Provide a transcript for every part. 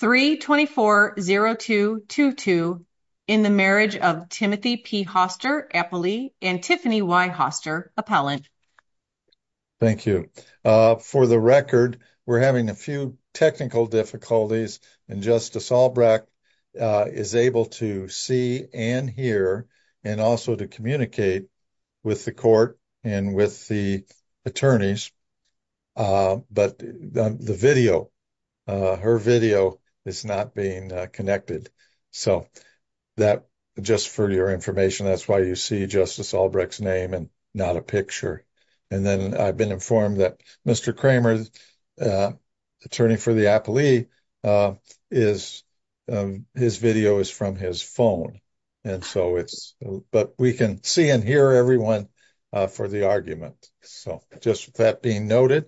3-24-02-22 in the marriage of Timothy P. Hoster, appellee, and Tiffany Y. Hoster, appellant. Thank you. For the record, we're having a few technical difficulties and Justice Albrecht is able to see and hear and also to communicate with the court and with the attorneys, but the video, her video is not being connected. So, just for your information, that's why you see Justice Albrecht's name and not a picture. And then I've been informed that Mr. Kramer, attorney for the appellee, his video is from his phone. But we can see and hear everyone for the argument. So, just that being noted,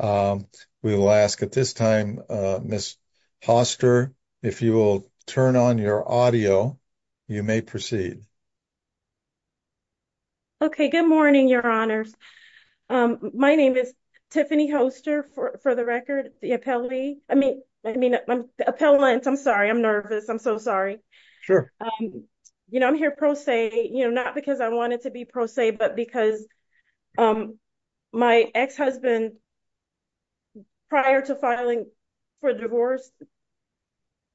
we will ask at this time, Ms. Hoster, if you will turn on your audio, you may proceed. Okay. Good morning, your honors. My name is Tiffany Hoster, for the record, the appellee. I mean, appellant. I'm sorry. I'm nervous. I'm so sorry. Sure. You know, I'm here pro se, you know, not because I wanted to be pro se, but because my ex-husband, prior to filing for divorce,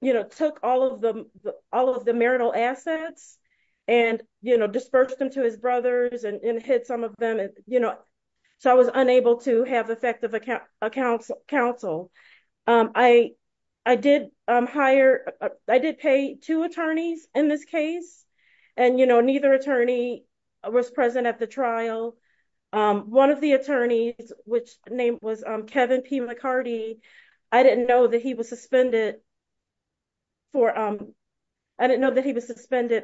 you know, took all of the marital assets and, you know, dispersed them to his brothers and hid some of them, you know, so I was unable to have effective counsel. I did hire, I did pay two attorneys in this case. And, you know, neither attorney was present at the trial. One of the attorneys, which name was Kevin P. McCarty, I didn't know that he was suspended for, I didn't know that he was suspended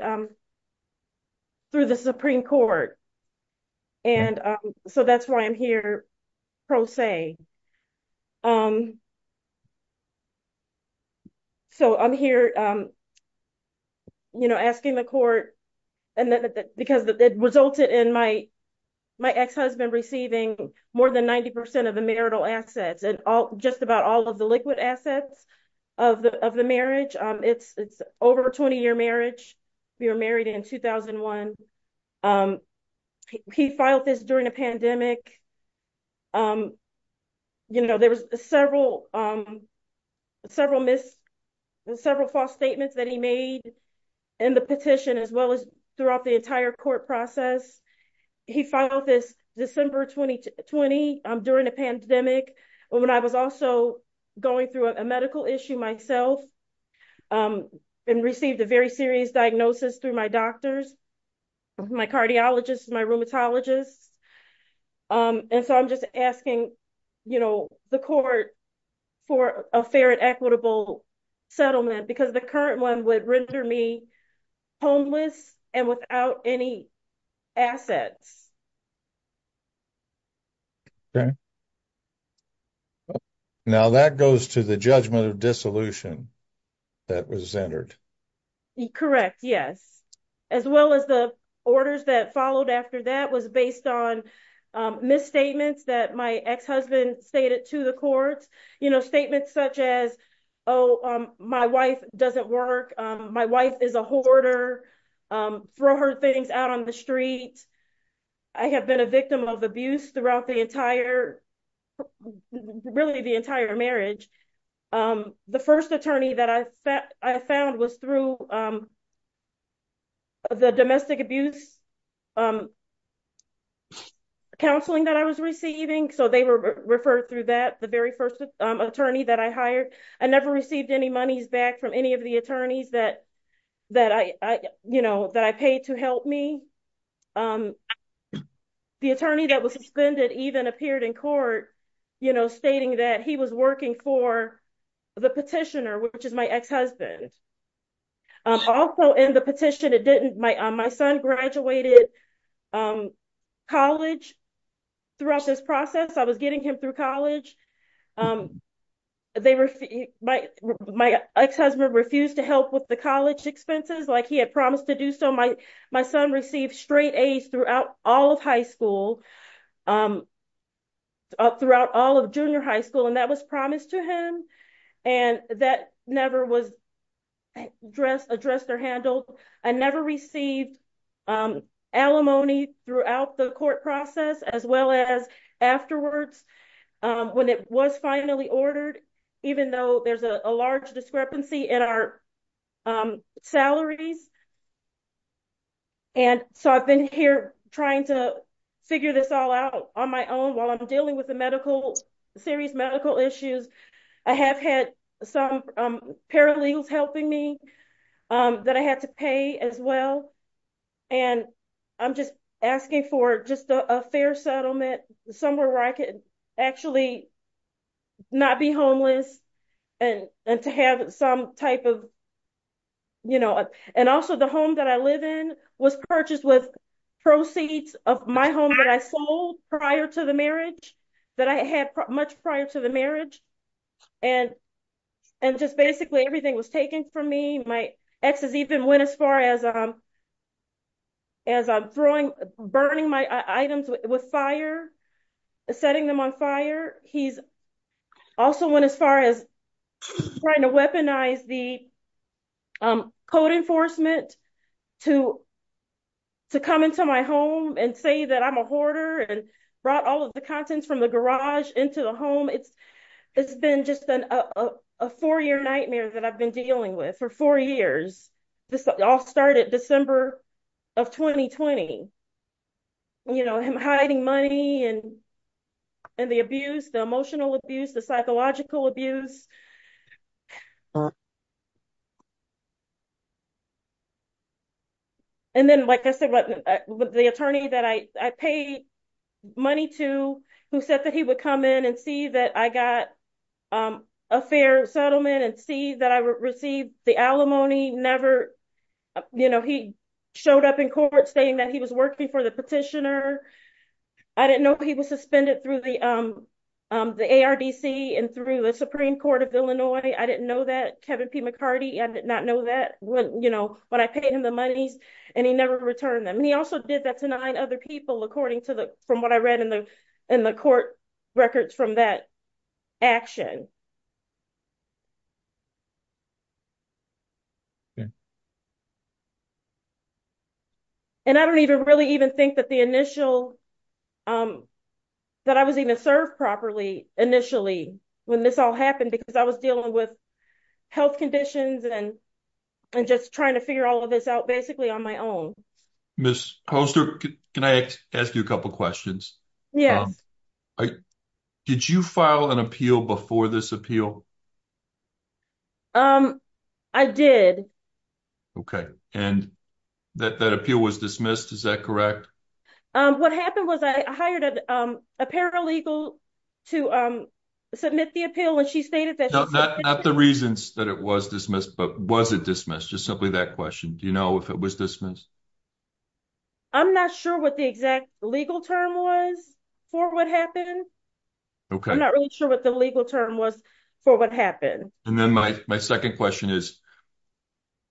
through the Supreme Court. And so that's why I'm here pro se. So, I'm here, you know, asking the court, because it resulted in my ex-husband receiving more than 90% of the marital assets and just about all of the liquid assets of the marriage. It's over a 20-year marriage. We were married in 2001. He filed this during a pandemic. You know, there was several false statements that he made in the petition, as well as throughout the entire court process. He filed this December 2020 during a pandemic, when I was also going through a medical issue myself and received a very serious diagnosis through my doctors, my cardiologists, my rheumatologists. And so I'm just asking, you know, the court for a fair and equitable settlement because the current one would render me homeless and without any assets. Okay. Now that goes to the judgment of dissolution that was entered. Correct. Yes. As well as the orders that followed after that was based on misstatements that my ex-husband stated to the courts, you know, statements such as, oh, my wife doesn't work. My wife is a hoarder. Throw her things out on the street. I have been a victim of abuse throughout the entire, really the entire marriage. The first attorney that I found was through the domestic abuse counseling that I was receiving. So they were referred through that. The very first attorney that I hired, I never received any monies back from any of the attorneys that, that I, you know, that I paid to help me. The attorney that was suspended even appeared in court, you know, stating that he was working for the petitioner, which is my ex-husband. Also in the petition, it didn't, my, my son graduated college throughout this process. I was getting him through college. They were, my, my ex-husband refused to help with the college expenses. Like he had promised to do so. My, my son received straight A's throughout all of high school, throughout all of junior high school. And that was promised to him. And that never was addressed, addressed or handled. I never received alimony throughout the court process, as well as afterwards when it was finally ordered, even though there's a large discrepancy in our salaries. And so I've been here trying to figure this all out on my own while I'm dealing with the medical serious medical issues. I have had some paralegals helping me that I had to pay as well. And I'm just asking for just a fair settlement somewhere where I could actually not be homeless and to have some type of, you know, and also the home that I live in was purchased with proceeds of my home that I sold prior to the marriage that I had much prior to the marriage. And, and just basically everything was taken from me. My ex has even went as far as, as I'm throwing, burning my items with fire, setting them on fire. He's also went as far as trying to weaponize the code enforcement to, to come into my home and say that I'm a hoarder and brought all of the contents from the garage into the home. It's, it's been just a four-year nightmare that I've been dealing with for four years. This all started December of 2020, you know, him hiding money and, and the abuse, the emotional abuse, the psychological abuse. And then, like I said, the attorney that I paid money to who said that he would come in and see that I got a fair settlement and see that I received the alimony never, you know, he showed up in court saying that he was working for the petitioner. I didn't know he was suspended through the, the ARDC and through the Supreme Court. I didn't know he was suspended through the Supreme Court of Illinois. I didn't know that. Kevin P. McCarty, I did not know that when, you know, when I paid him the monies and he never returned them. And he also did that to nine other people, according to the, from what I read in the, in the court records from that action. And I don't even really even think that the initial, um, that I was even served properly initially when this all happened, because I was dealing with health conditions and, and just trying to figure all of this out basically on my own. Ms. Poster, can I ask you a couple of questions? Yes. Did you file an appeal before this appeal? Um, I did. Okay. And that, that appeal was dismissed. Is that correct? What happened was I hired a, um, a paralegal to, um, submit the appeal and she stated that- No, not the reasons that it was dismissed, but was it dismissed? Just simply that question. Do you know if it was dismissed? I'm not sure what the exact legal term was for what happened. Okay. I'm not really sure what the legal term was for what happened. And then my, my second question is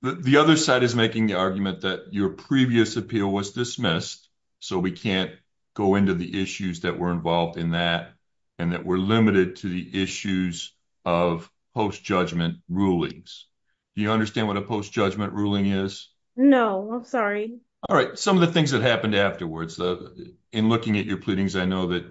the other side is making the argument that your previous appeal was dismissed. So we can't go into the issues that were involved in that and that were limited to the issues of post-judgment rulings. Do you understand what a post-judgment ruling is? No, I'm sorry. All right. Some of the things that happened afterwards, uh, in looking at your pleadings, I know that,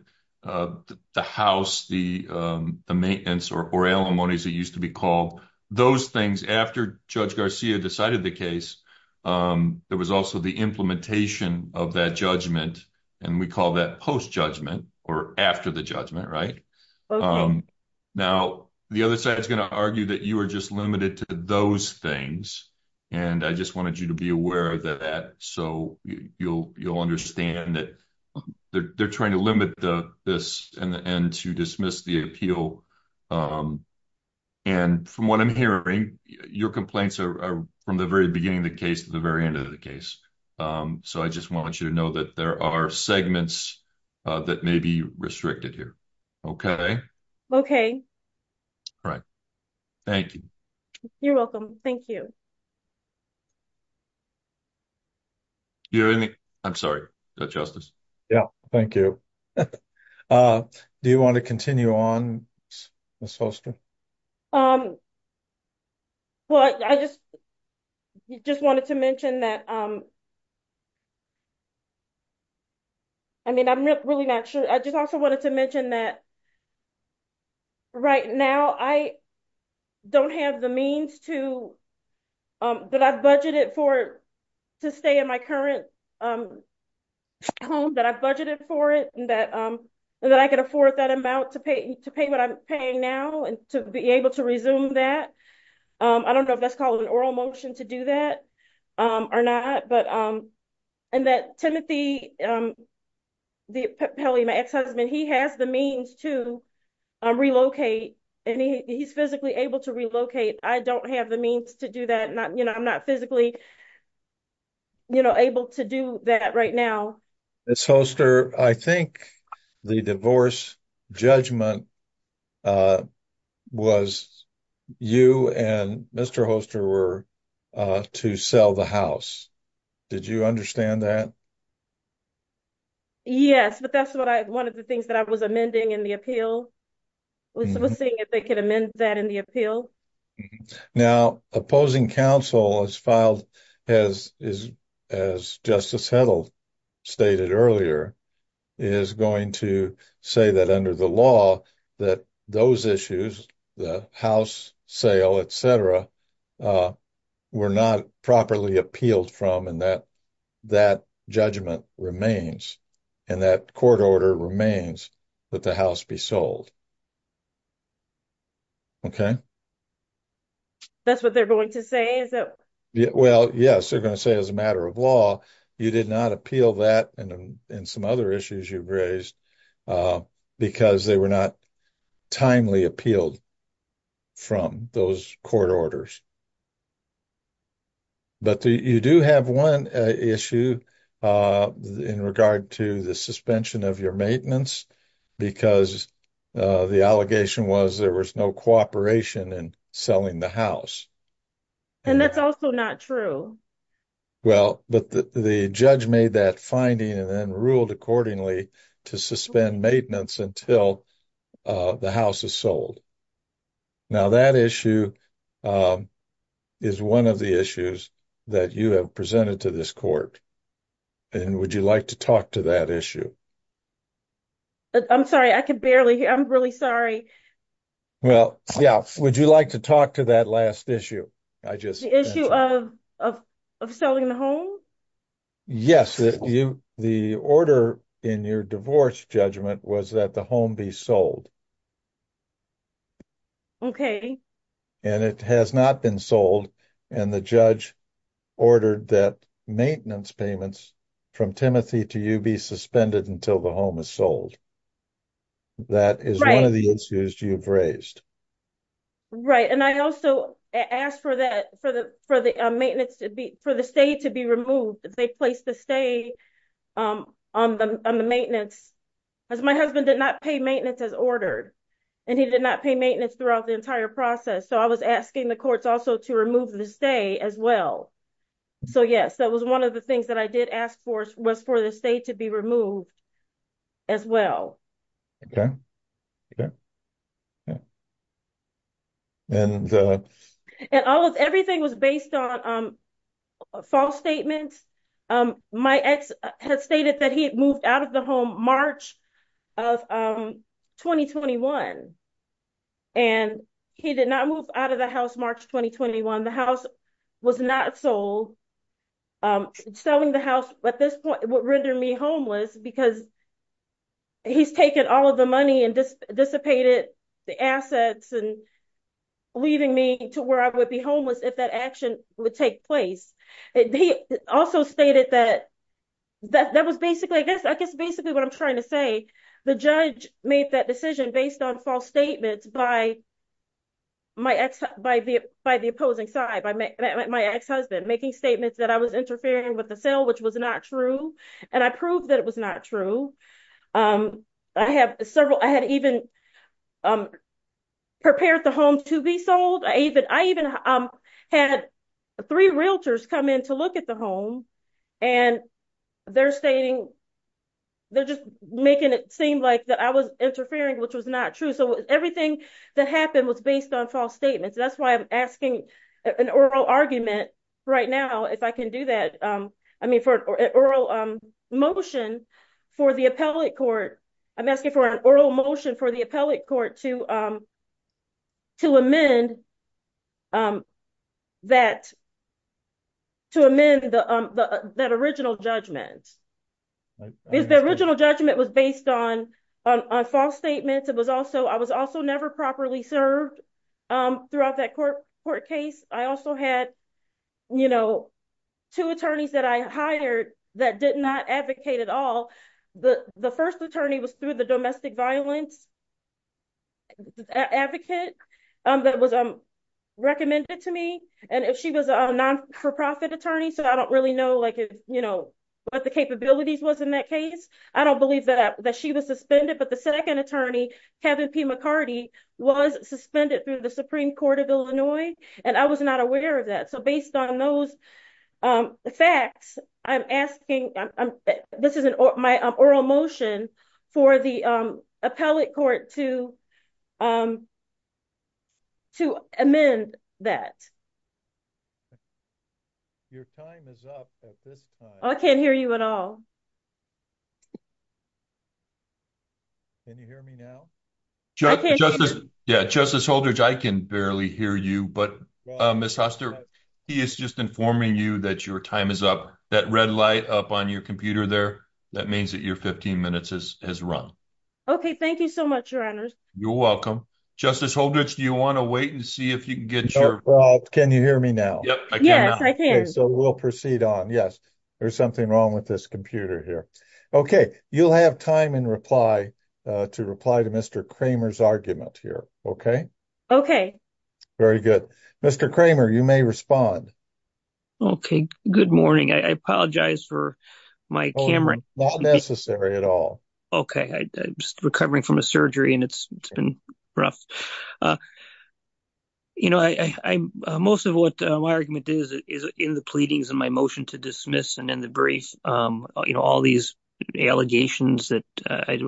uh, the house, the, um, the maintenance or, or alimony as it used to be called, those things after Judge Garcia decided the case, um, there was also the implementation of that judgment. And we call that post-judgment or after the judgment, right? Now the other side is going to argue that you are just limited to those things. And I just wanted you to be aware of that. So you'll, you'll understand that they're trying to limit the, this and the end to dismiss the appeal. Um, and from what I'm hearing, your complaints are from the very beginning of the case to the very end of the case. Um, so I just want you to know that there are segments, uh, that may be restricted here. Okay. Okay. All right. Thank you. You're welcome. Thank you. I'm sorry. Justice. Yeah. Thank you. Uh, do you want to continue on? Um, well, I just, just wanted to mention that, um, I mean, I'm really not sure. I just also wanted to mention that um, right now I don't have the means to, um, but I've budgeted for to stay in my current, um, home that I budgeted for it and that, um, that I could afford that amount to pay, to pay what I'm paying now and to be able to resume that. Um, I don't know if that's called an oral motion to do that, um, or not, but, um, and that Timothy, um, the Kelly, my ex-husband, he has the means to, um, relocate and he's physically able to relocate. I don't have the means to do that. Not, you know, I'm not physically, you know, able to do that right now. It's Holster. I think the divorce judgment, uh, was you and Mr. Holster were, uh, to sell the house. Did you understand that? Yes, but that's what I, one of the things that I was amending in the appeal was seeing if they could amend that in the appeal. Now, opposing counsel has filed, has, is, as Justice Hedl stated earlier, is going to say that under the law that those issues, the house sale, et cetera, uh, were not properly appealed from and that, that judgment remains and that court order remains that the house be sold. Okay. That's what they're going to say, is it? Well, yes, they're going to say as a matter of law, you did not appeal that and in some other issues you've raised, uh, because they were not timely appealed from those court orders. But you do have one issue, uh, in regard to the suspension of your maintenance because, uh, the allegation was there was no cooperation in selling the house. And that's also not true. Well, but the judge made that finding and then ruled accordingly to suspend maintenance until, uh, the house is sold. Now that issue, um, is one of the issues that you have presented to this court. And would you like to talk to that issue? I'm sorry, I can barely, I'm really sorry. Well, yeah. Would you like to talk to that last issue? I just. The issue of, of, of selling the home? Yes, you, the order in your divorce judgment was that the home be sold. Okay. And it has not been sold and the judge ordered that maintenance payments from Timothy to you be suspended until the home is sold. That is one of the issues you've raised. Right. And I also asked for that, for the, for the maintenance to be, for the state to be removed. If they placed the stay, um, on the, on the maintenance, because my husband did not pay maintenance as ordered and he did not pay maintenance throughout the entire process. So I was asking the courts also to remove the stay as well. So, yes, that was one of the things that I did ask for was for the state to be removed as well. Okay. Okay. Yeah. And, uh, and all of everything was based on, um, false statements. Um, my ex had stated that he had moved out of the home March of, um, 2021. And he did not move out of the house March, 2021. The house was not sold. Um, selling the house at this point would render me homeless because he's taken all of the money and just dissipated the assets and leaving me to where I would be homeless. If that action would take place. He also stated that, that that was basically, I guess, I guess, basically what I'm trying to say, the judge made that decision based on false statements by my ex, by the, by the opposing side, by my ex-husband making statements that I was interfering with the sale, which was not true. And I proved that it was not true. Um, I have several, I had even, um, prepared the home to be sold. I even, I even, um, had three realtors come in to look at the home and they're stating, they're just making it seem like that I was interfering, which was not true. So everything that happened was based on false statements. That's why I'm asking an oral argument right now, if I can do that. Um, I mean, for an oral, um, motion for the appellate court, I'm asking for an oral motion for the appellate court to, um, to amend, um, that to amend the, um, the, that original judgment is the original judgment was based on, on, on false statements. It was also, I was also never properly served, um, throughout that court court case. I also had, you know, two attorneys that I hired that did not advocate at all. The, the first attorney was through the domestic violence advocate, um, that was, um, recommended to me. And if she was a non for-profit attorney, so I don't really know, like, you know, what the capabilities was in that I don't believe that, that she was suspended, but the second attorney, Kevin P. McCarty was suspended through the Supreme court of Illinois. And I was not aware of that. So based on those, um, facts, I'm asking, this is an oral motion for the, um, appellate court to, um, to amend that. Your time is up at this time. I can't hear you at all. Can you hear me now? Justice, yeah, Justice Holdridge, I can barely hear you, but, uh, Ms. Hoster, he is just informing you that your time is up that red light up on your computer there. That means that your 15 minutes has run. Okay. Thank you so much, your honors. You're can you hear me now? So we'll proceed on. Yes. There's something wrong with this computer here. Okay. You'll have time in reply, uh, to reply to Mr. Kramer's argument here. Okay. Okay. Very good. Mr. Kramer, you may respond. Okay. Good morning. I apologize for my camera. Not necessary at all. Okay. I'm just recovering from a surgery and it's been rough. Uh, you know, I, I, I'm, uh, most of what, uh, my argument is, is in the pleadings and my motion to dismiss and then the briefs, um, you know, all these allegations that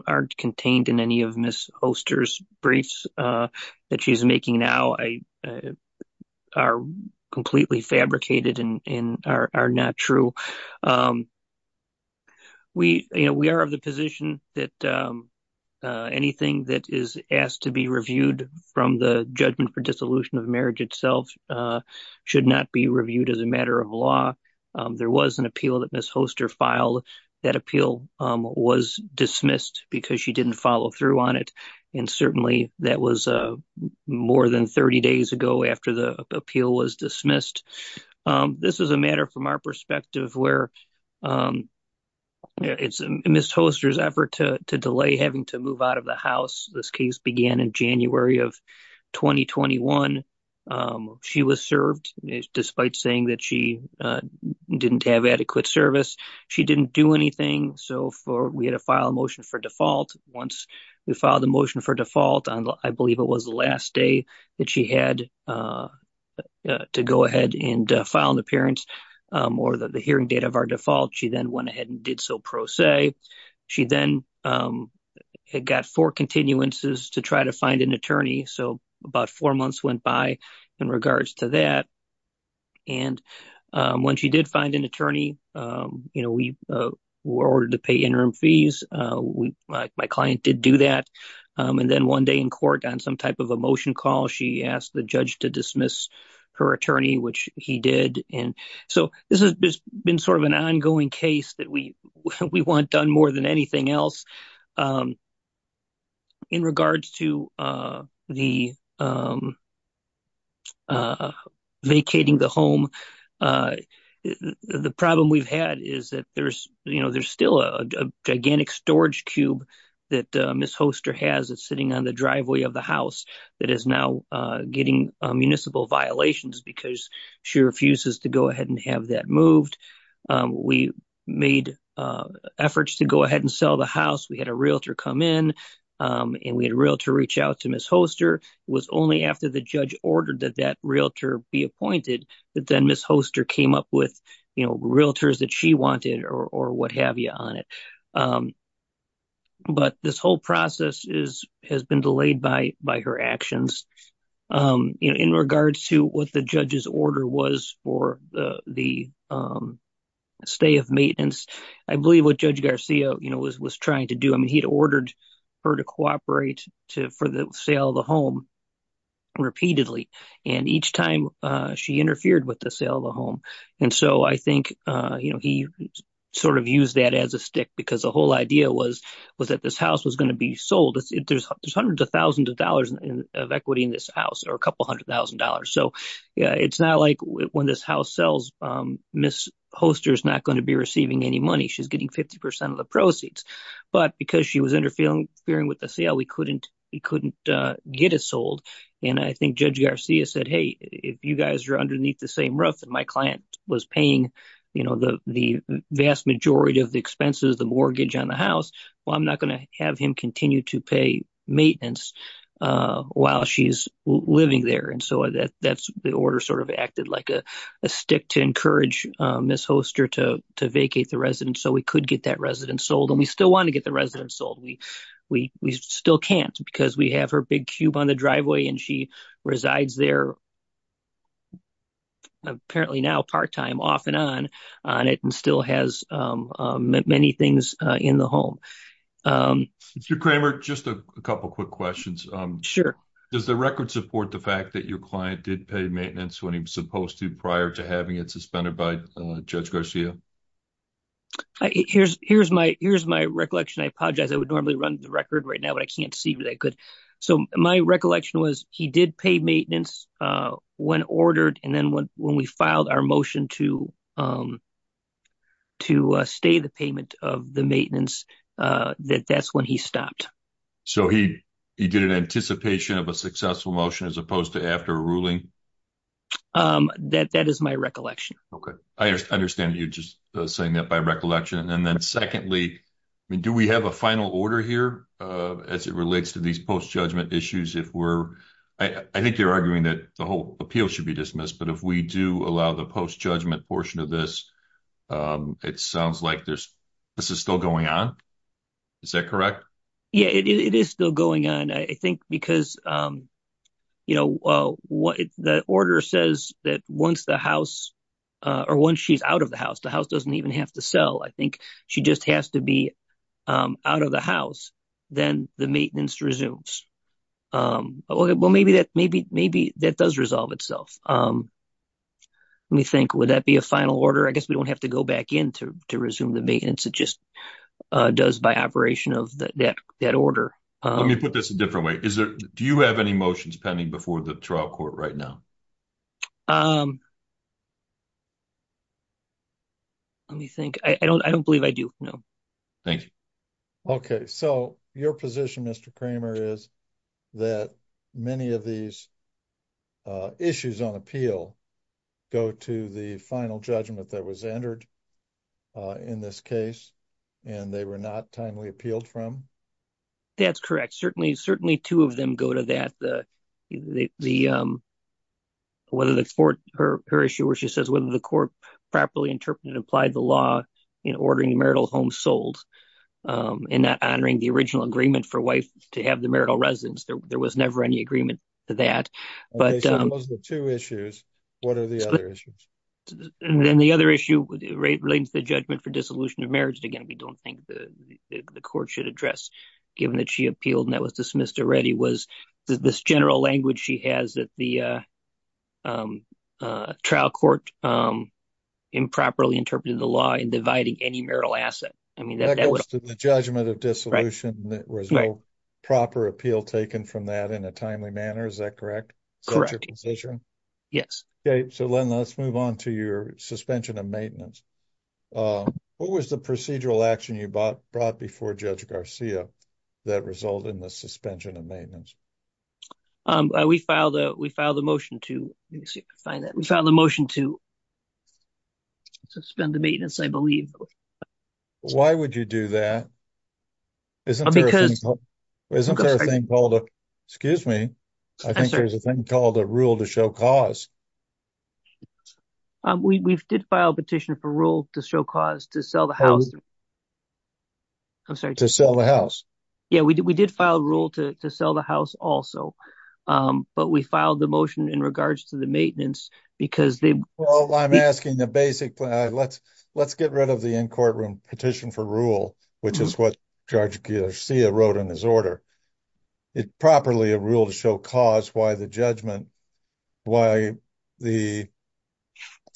aren't contained in any of Ms. Hoster's briefs, uh, that she's making now, I, uh, are completely fabricated and are not true. Um, we, you know, we are of the position that, um, uh, anything that is asked to be reviewed from the judgment for dissolution of marriage itself, uh, should not be reviewed as a matter of law. Um, there was an appeal that Ms. Hoster filed that appeal, um, was dismissed because she didn't follow through on it. And certainly that was, uh, more than 30 days ago after the appeal was dismissed. Um, this is a matter from our perspective where, um, it's Ms. Hoster's effort to delay having to move out of the house. This case began in January of 2021. Um, she was served despite saying that she, uh, didn't have adequate service. She didn't do anything. So for, we had to file a motion for default. Once we filed the motion for default on, I believe it was the last day that she had, uh, uh, to go ahead and file an appearance, um, or the hearing date of our default, she then went ahead and did so pro se. She then, um, had got four continuances to try to find an attorney. So about four months went by in regards to that. And, um, when she did find an attorney, um, you know, we, uh, were ordered to pay interim fees. Uh, we, my client did do that. Um, and then one day in court on some type of a motion call, she asked the judge to dismiss her attorney, which he did. And so this has been sort of an ongoing case that we, we want done more than anything else. Um, in regards to, uh, the, um, uh, vacating the home, uh, the problem we've had is that there's, you know, there's still a gigantic storage cube that, uh, Ms. Hoster has it sitting on the driveway of the house that is now, uh, getting, uh, municipal violations because she refuses to go ahead and have that moved. Um, we made, uh, efforts to go ahead and sell the house. We had a realtor come in, um, and we had real to reach out to Ms. Hoster was only after the judge ordered that that realtor be appointed, that then Ms. Hoster came up with, you know, realtors that she wanted or, or what have you on Um, but this whole process is, has been delayed by, by her actions. Um, you know, in regards to what the judge's order was for the, the, um, stay of maintenance, I believe what judge Garcia, you know, was, was trying to do. I mean, he'd ordered her to cooperate to, for the sale of the home repeatedly. And each time, uh, she interfered with the sale of the home. And so I think, uh, he sort of used that as a stick because the whole idea was, was that this house was going to be sold. There's hundreds of thousands of dollars of equity in this house or a couple hundred thousand dollars. So yeah, it's not like when this house sells, um, Ms. Hoster's not going to be receiving any money. She's getting 50% of the proceeds, but because she was interfering with the sale, we couldn't, he couldn't, uh, get it sold. And I think judge Garcia said, Hey, if you guys are my client was paying, you know, the, the vast majority of the expenses, the mortgage on the house, well, I'm not going to have him continue to pay maintenance, uh, while she's living there. And so that that's the order sort of acted like a, a stick to encourage, um, Ms. Hoster to, to vacate the residence. So we could get that residence sold and we still want to get the residence sold. We, we, we still can't because we have her big cube on the driveway and she resides there apparently now part-time off and on, on it and still has, um, many things in the home. Um, Mr. Kramer, just a couple of quick questions. Um, sure. Does the record support the fact that your client did pay maintenance when he was supposed to prior to having it suspended by judge Garcia? Here's, here's my, here's my recollection. I apologize. I would normally run the record right now, but I can't see where they could. So my recollection was he did pay maintenance, uh, when ordered and then when, when we filed our motion to, um, to stay the payment of the maintenance, uh, that that's when he stopped. So he, he did an anticipation of a successful motion as opposed to after a ruling? Um, that, that is my recollection. Okay. I understand you just saying that by recollection. And then secondly, I mean, do we have a final order here, uh, as it relates to these post-judgment issues, if we're, I think they're arguing that the whole appeal should be dismissed, but if we do allow the post-judgment portion of this, um, it sounds like there's, this is still going on. Is that correct? Yeah, it is still going on. I think because, um, you know, uh, what the order says that once the house, uh, or once she's doesn't even have to sell. I think she just has to be, um, out of the house. Then the maintenance resumes. Um, well, maybe that, maybe, maybe that does resolve itself. Um, let me think, would that be a final order? I guess we don't have to go back in to, to resume the maintenance. It just, uh, does by operation of that, that, that order. Um, let me put this a different way. Is there, do you have any motions pending before the trial court right now? Um, let me think. I don't, I don't believe I do. No. Thank you. Okay. So your position, Mr. Kramer, is that many of these, uh, issues on appeal go to the final judgment that was entered, uh, in this case and they were not timely appealed from. That's correct. Certainly, certainly two of them go to that. The, the, um, whether that's for her, her issue where she says, whether the court properly interpreted and applied the law in ordering marital homes sold, um, and not honoring the original agreement for wife to have the marital residence. There was never any agreement to that, but, um, those are the two issues. What are the other issues? And then the other issue relates to the judgment for dissolution of marriage. And again, we don't think the court should address given that she appealed and that was dismissed already was this general language. She has that the, uh, um, uh, trial court, um, improperly interpreted the law in dividing any marital asset. I mean, that goes to the judgment of dissolution that was proper appeal taken from that in a timely manner. Is that correct? Correct. Yes. Okay. So let's move on to your suspension of maintenance. Um, what was the procedural action you bought, brought before judge Garcia that result in the suspension of maintenance? Um, we filed a, we filed a motion to find that we filed a motion to suspend the maintenance. I believe. Why would you do that? Isn't there a thing called, excuse me. I think there's a thing called a rule to show cause. Um, we we've did file a petition for rule to show cause to sell the house. I'm sorry to sell the house. Yeah, we did. We did file a rule to sell the house also. Um, but we filed the motion in regards to the maintenance because they, well, I'm asking the basic plan. Let's, let's get rid of the in courtroom petition for rule, which is what wrote in his order. It properly a rule to show cause why the judgment, why the,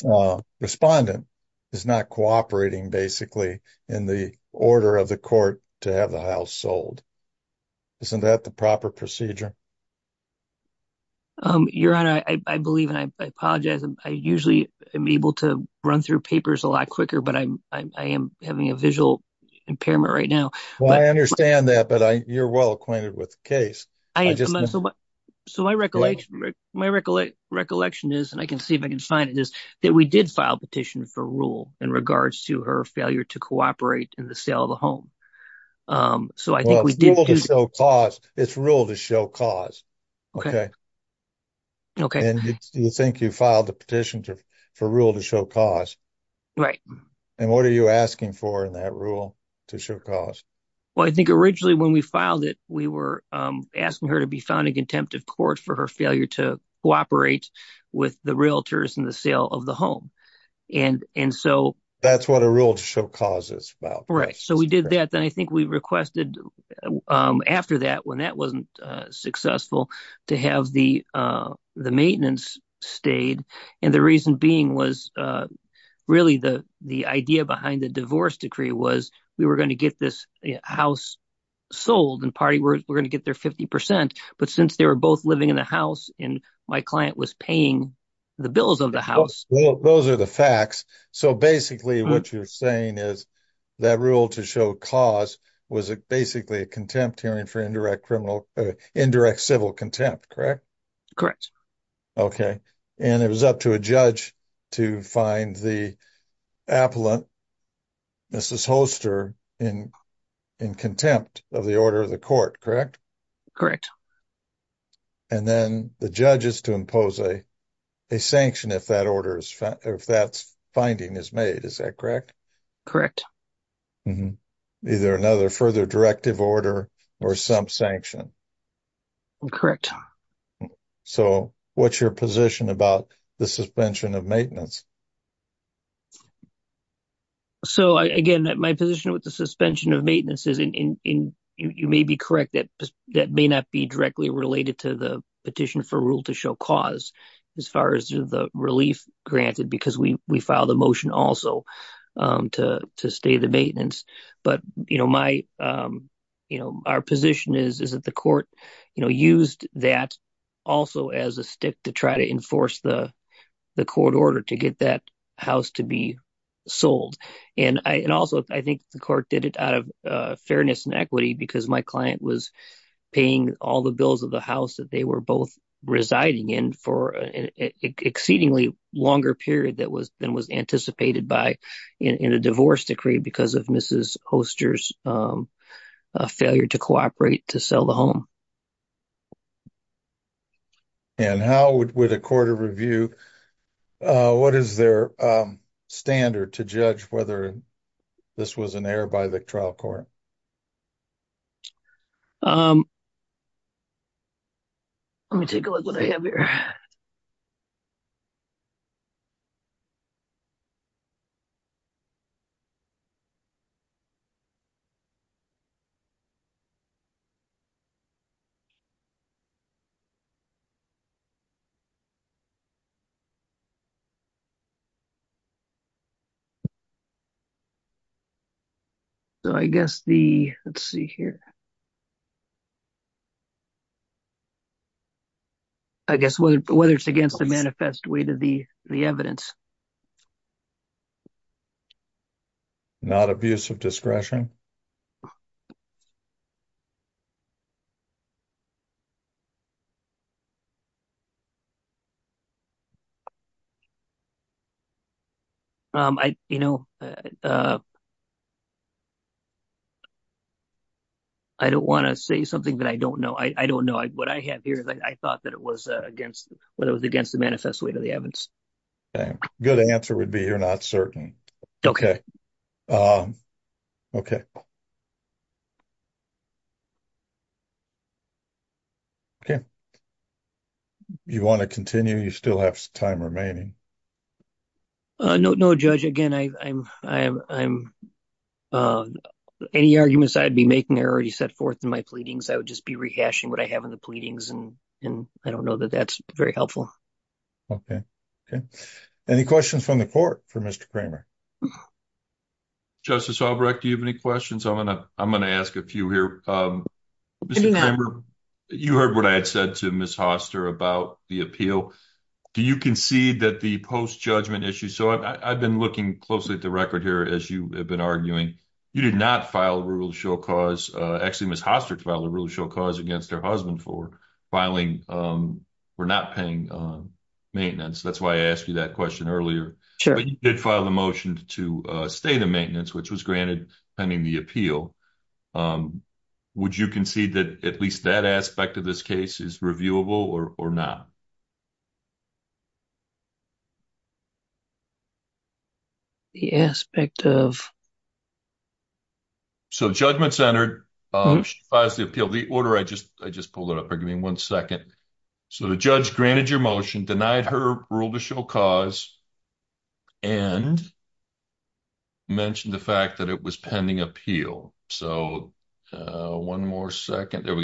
uh, respondent is not cooperating basically in the order of the court to have the house sold. Isn't that the proper procedure? Um, your honor, I believe, and I apologize. I usually am able to run through papers a lot quicker, but I'm, I am having a visual impairment right now, but I understand that, but I, you're well acquainted with the case. So my recollection, my recollection is, and I can see if I can find it is that we did file petition for rule in regards to her failure to cooperate in the sale of the home. Um, so I think we did show cause it's rule to show cause. Okay. Okay. And it's, do you think you filed the petition for rule to show cause? Right. And what are you asking for that rule to show cause? Well, I think originally when we filed it, we were, um, asking her to be found in contempt of court for her failure to cooperate with the realtors in the sale of the home. And, and so that's what a rule to show causes about. Right. So we did that. Then I think we requested, um, after that, when that wasn't successful to have the, uh, the maintenance stayed. And the reason being was, uh, really the, the idea behind the divorce decree was we were going to get this house sold and party. We're going to get their 50%. But since they were both living in the house and my client was paying the bills of the house. Well, those are the facts. So basically what you're saying is that rule to show cause was basically a contempt hearing for criminal, uh, indirect civil contempt, correct? Correct. Okay. And it was up to a judge to find the appellant, Mrs. Holster in, in contempt of the order of the court, correct? Correct. And then the judge is to impose a, a sanction if that order is, if that's finding is made, is that correct? Correct. Either another further directive order or some sanction. Correct. So what's your position about the suspension of maintenance? So I, again, my position with the suspension of maintenance is in, in, in, you may be correct that, that may not be directly related to the petition for rule to show cause as far as the relief granted, because we, we filed a motion also, um, to, to stay the maintenance, but you know, my, um, you know, our position is, is that the court, you know, used that also as a stick to try to enforce the court order to get that house to be sold. And I, and also I think the court did it out of fairness and equity because my client was paying all the bills of house that they were both residing in for an exceedingly longer period that was, than was anticipated by in, in a divorce decree because of Mrs. Holster's, um, uh, failure to cooperate to sell the home. And how would, would a court of review, uh, what is their, um, standard to judge whether this was an error by the trial court? Um, let me take a look what I have here. So I guess the, let's see here. I guess whether, whether it's against the manifest way to the, the evidence. Not abuse of discretion. Um, I, you know, uh, I don't want to say something that I don't know. I don't know what I have here. I thought that it was against what it was against the manifest way to the evidence. Good answer would be, you're not certain. Okay. Um, okay. Okay. You want to continue? You still have time remaining. Uh, no, no judge. Again, I I'm, I'm, I'm, um, any arguments I'd be making, I already set forth in my pleadings. I would just be rehashing what I have in the pleadings. And, and I don't know that that's very helpful. Okay. Okay. Any questions from the court for Mr. Kramer? Justice Albrecht, do you have any questions? I'm going to, I'm going to ask a few here. Um, you heard what I had said to Ms. Hoster about the appeal. Do you concede that the post judgment issue? So I've been looking closely at the record here, as you have been arguing, you did not file a rule to show cause, uh, actually Ms. Hoster filed a rule to show cause against her husband for filing, um, for not paying, uh, maintenance. That's why I asked you that question earlier, but you did file the motion to, uh, stay the maintenance, which was granted pending the appeal. Um, would you concede that at least that aspect of this case is reviewable or not? The aspect of... So judgment centered, um, she files the appeal, the order, I just, I just pulled it up. Give me one second. So the judge granted your motion, denied her rule to show cause and mentioned the fact that it was pending appeal. So, uh, one more second. There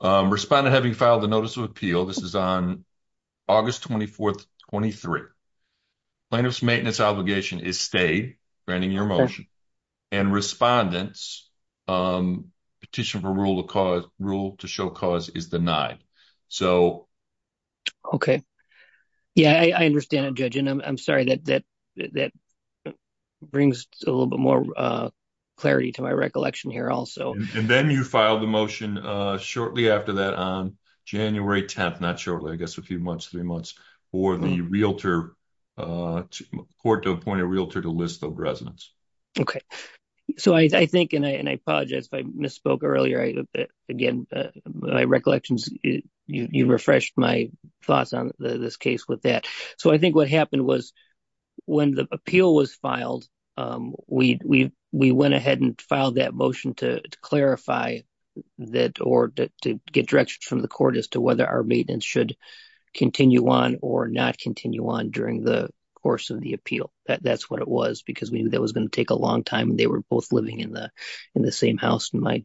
on August 24th, 23. Plaintiff's maintenance obligation is stayed granting your motion and respondents, um, petition for rule of cause rule to show cause is denied. So. Okay. Yeah. I understand a judge and I'm sorry that, that, that brings a little bit more, uh, clarity to my recollection here also. And then you filed the motion, uh, shortly after that on January 10th, not shortly, I guess a few months, three months for the realtor, uh, court to appoint a realtor to list of residents. Okay. So I think, and I, and I apologize if I misspoke earlier. I, again, my recollections, you, you refreshed my thoughts on this case with that. So I think what happened was when the appeal was filed, um, we, we, we went ahead and filed that motion to clarify that or to get directions from the court as to whether our maintenance should continue on or not continue on during the course of the appeal. That's what it was because we knew that was going to take a long time. They were both living in the, in the same house. And my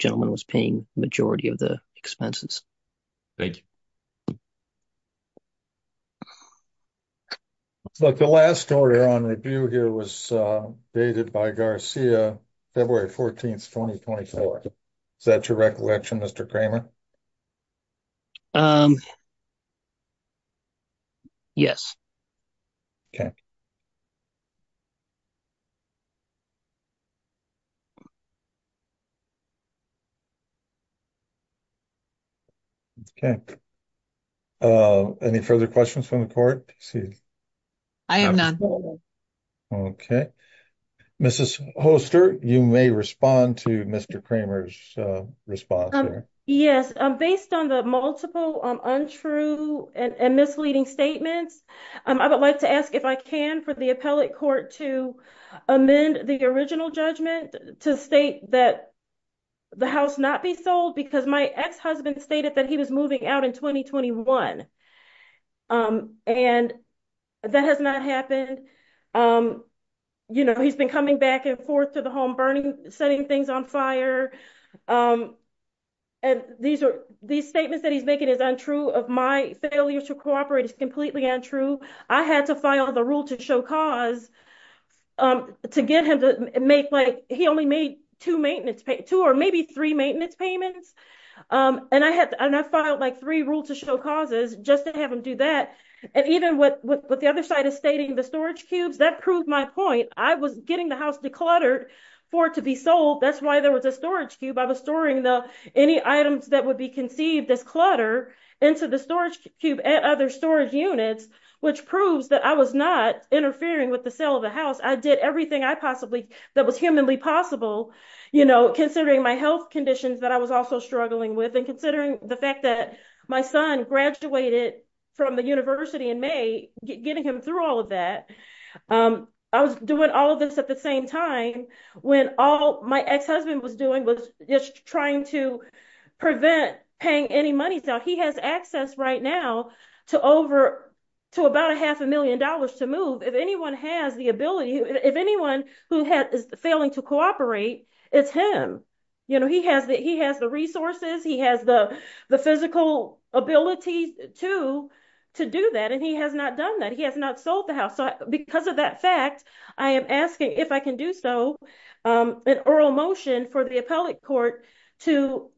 look, the last story on review here was, uh, dated by Garcia, February 14th, 2024. Is that your recollection, Mr. Kramer? Um, yes. Okay. Okay. Uh, any further questions from the court? I have none. Okay. Mrs. Holster, you may respond to Mr. Kramer's response. Yes. Um, based on the multiple, um, untrue and misleading statements, um, I would like to ask if I can, for the appellate court to amend the original judgment to state that the house not be sold because my ex-husband stated that he was moving out in 2021. Um, and that has not happened. Um, you know, he's been coming back and forth to the home, burning, setting things on fire. Um, and these are these statements that he's making is untrue of my failure to cooperate is completely untrue. I had to file the rule to cause, um, to get him to make, like, he only made two maintenance, two or maybe three maintenance payments. Um, and I had, and I filed like three rules to show causes just to have him do that. And even with, with, with the other side of stating the storage cubes, that proved my point. I was getting the house decluttered for it to be sold. That's why there was a storage cube. I was storing the, any items that would be conceived as clutter into the storage cube and other storage units, which proves that I was not interfering with the sale of the house. I did everything I possibly that was humanly possible, you know, considering my health conditions that I was also struggling with and considering the fact that my son graduated from the university in may getting him through all of that. Um, I was doing all of this at the same time when all my ex-husband was just trying to prevent paying any money. So he has access right now to over to about a half a million dollars to move. If anyone has the ability, if anyone who had is failing to cooperate, it's him. You know, he has the, he has the resources. He has the, the physical ability to, to do that. And he has not done that. He has not sold the house. So because of that fact, I am asking if I to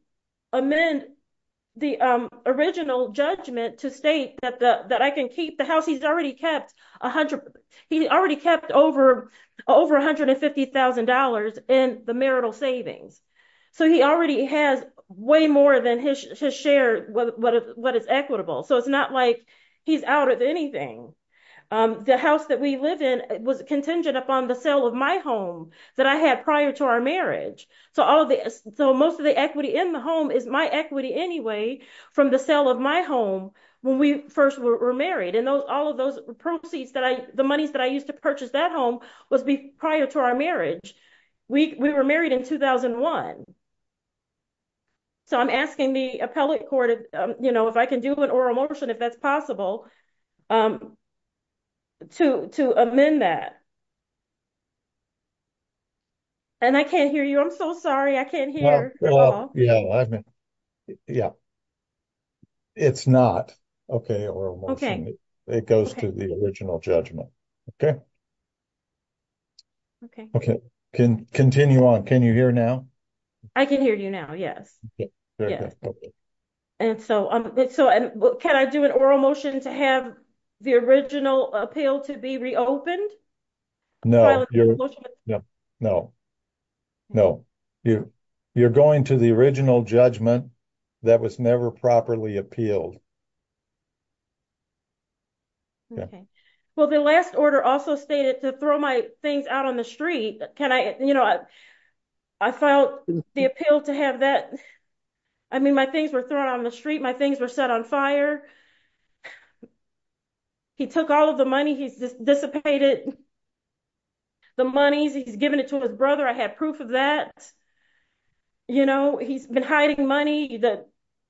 amend the, um, original judgment to state that the, that I can keep the house he's already kept a hundred, he already kept over, over $150,000 in the marital savings. So he already has way more than his share, what is equitable. So it's not like he's out of anything. Um, the house that we live in was contingent upon the sale of my home that I had prior to our marriage. So all of the, so most of the equity in the home is my equity anyway, from the sale of my home when we first were married. And those, all of those proceeds that I, the monies that I used to purchase that home was prior to our marriage. We were married in 2001. So I'm asking the appellate court, you know, if I can do an oral motion, if that's possible, um, to, to amend that. And I can't hear you. I'm so sorry. I can't hear. Yeah. Yeah. Yeah. It's not okay. Or it goes to the original judgment. Okay. Okay. Okay. Can continue on. Can you hear now? I can hear you now. Yes. And so, um, so can I do an oral motion to have the original appeal to be reopened? No, no, no, you, you're going to the original judgment that was never properly appealed. Okay. Well, the last order also stated to throw my things out on the street. Can I, you know, I filed the appeal to have that. I mean, my things were thrown on the street. My things were set on fire. He took all of the money. He's dissipated the monies. He's given it to his brother. I have proof of that. You know, he's been hiding money that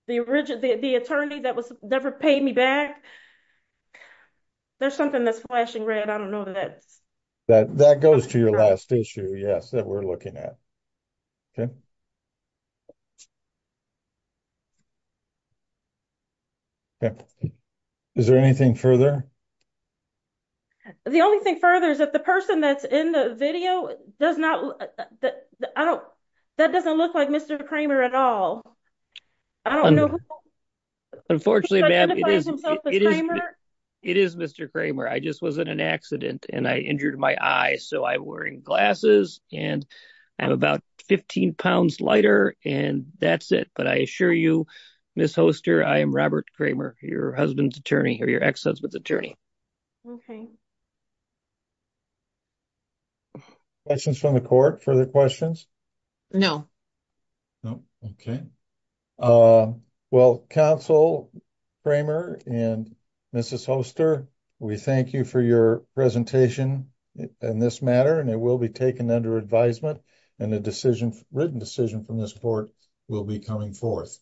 the original, the attorney that was never paid me back. There's something that's flashing red. I don't know that that goes to your last yes. That we're looking at. Okay. Is there anything further? The only thing further is that the person that's in the video does not, I don't, that doesn't look like Mr. Kramer at all. Unfortunately, it is Mr. Kramer. I just was in an accident and I injured my eye. So I wearing glasses and I'm about 15 pounds lighter and that's it. But I assure you, Ms. Hoster, I am Robert Kramer, your husband's attorney or your ex husband's attorney. Questions from the court, further questions? No. No. Okay. Well, counsel Kramer and Mrs. Hoster, we thank you for your presentation in this matter and it will be taken under advisement and the decision written decision from this court will be coming forth.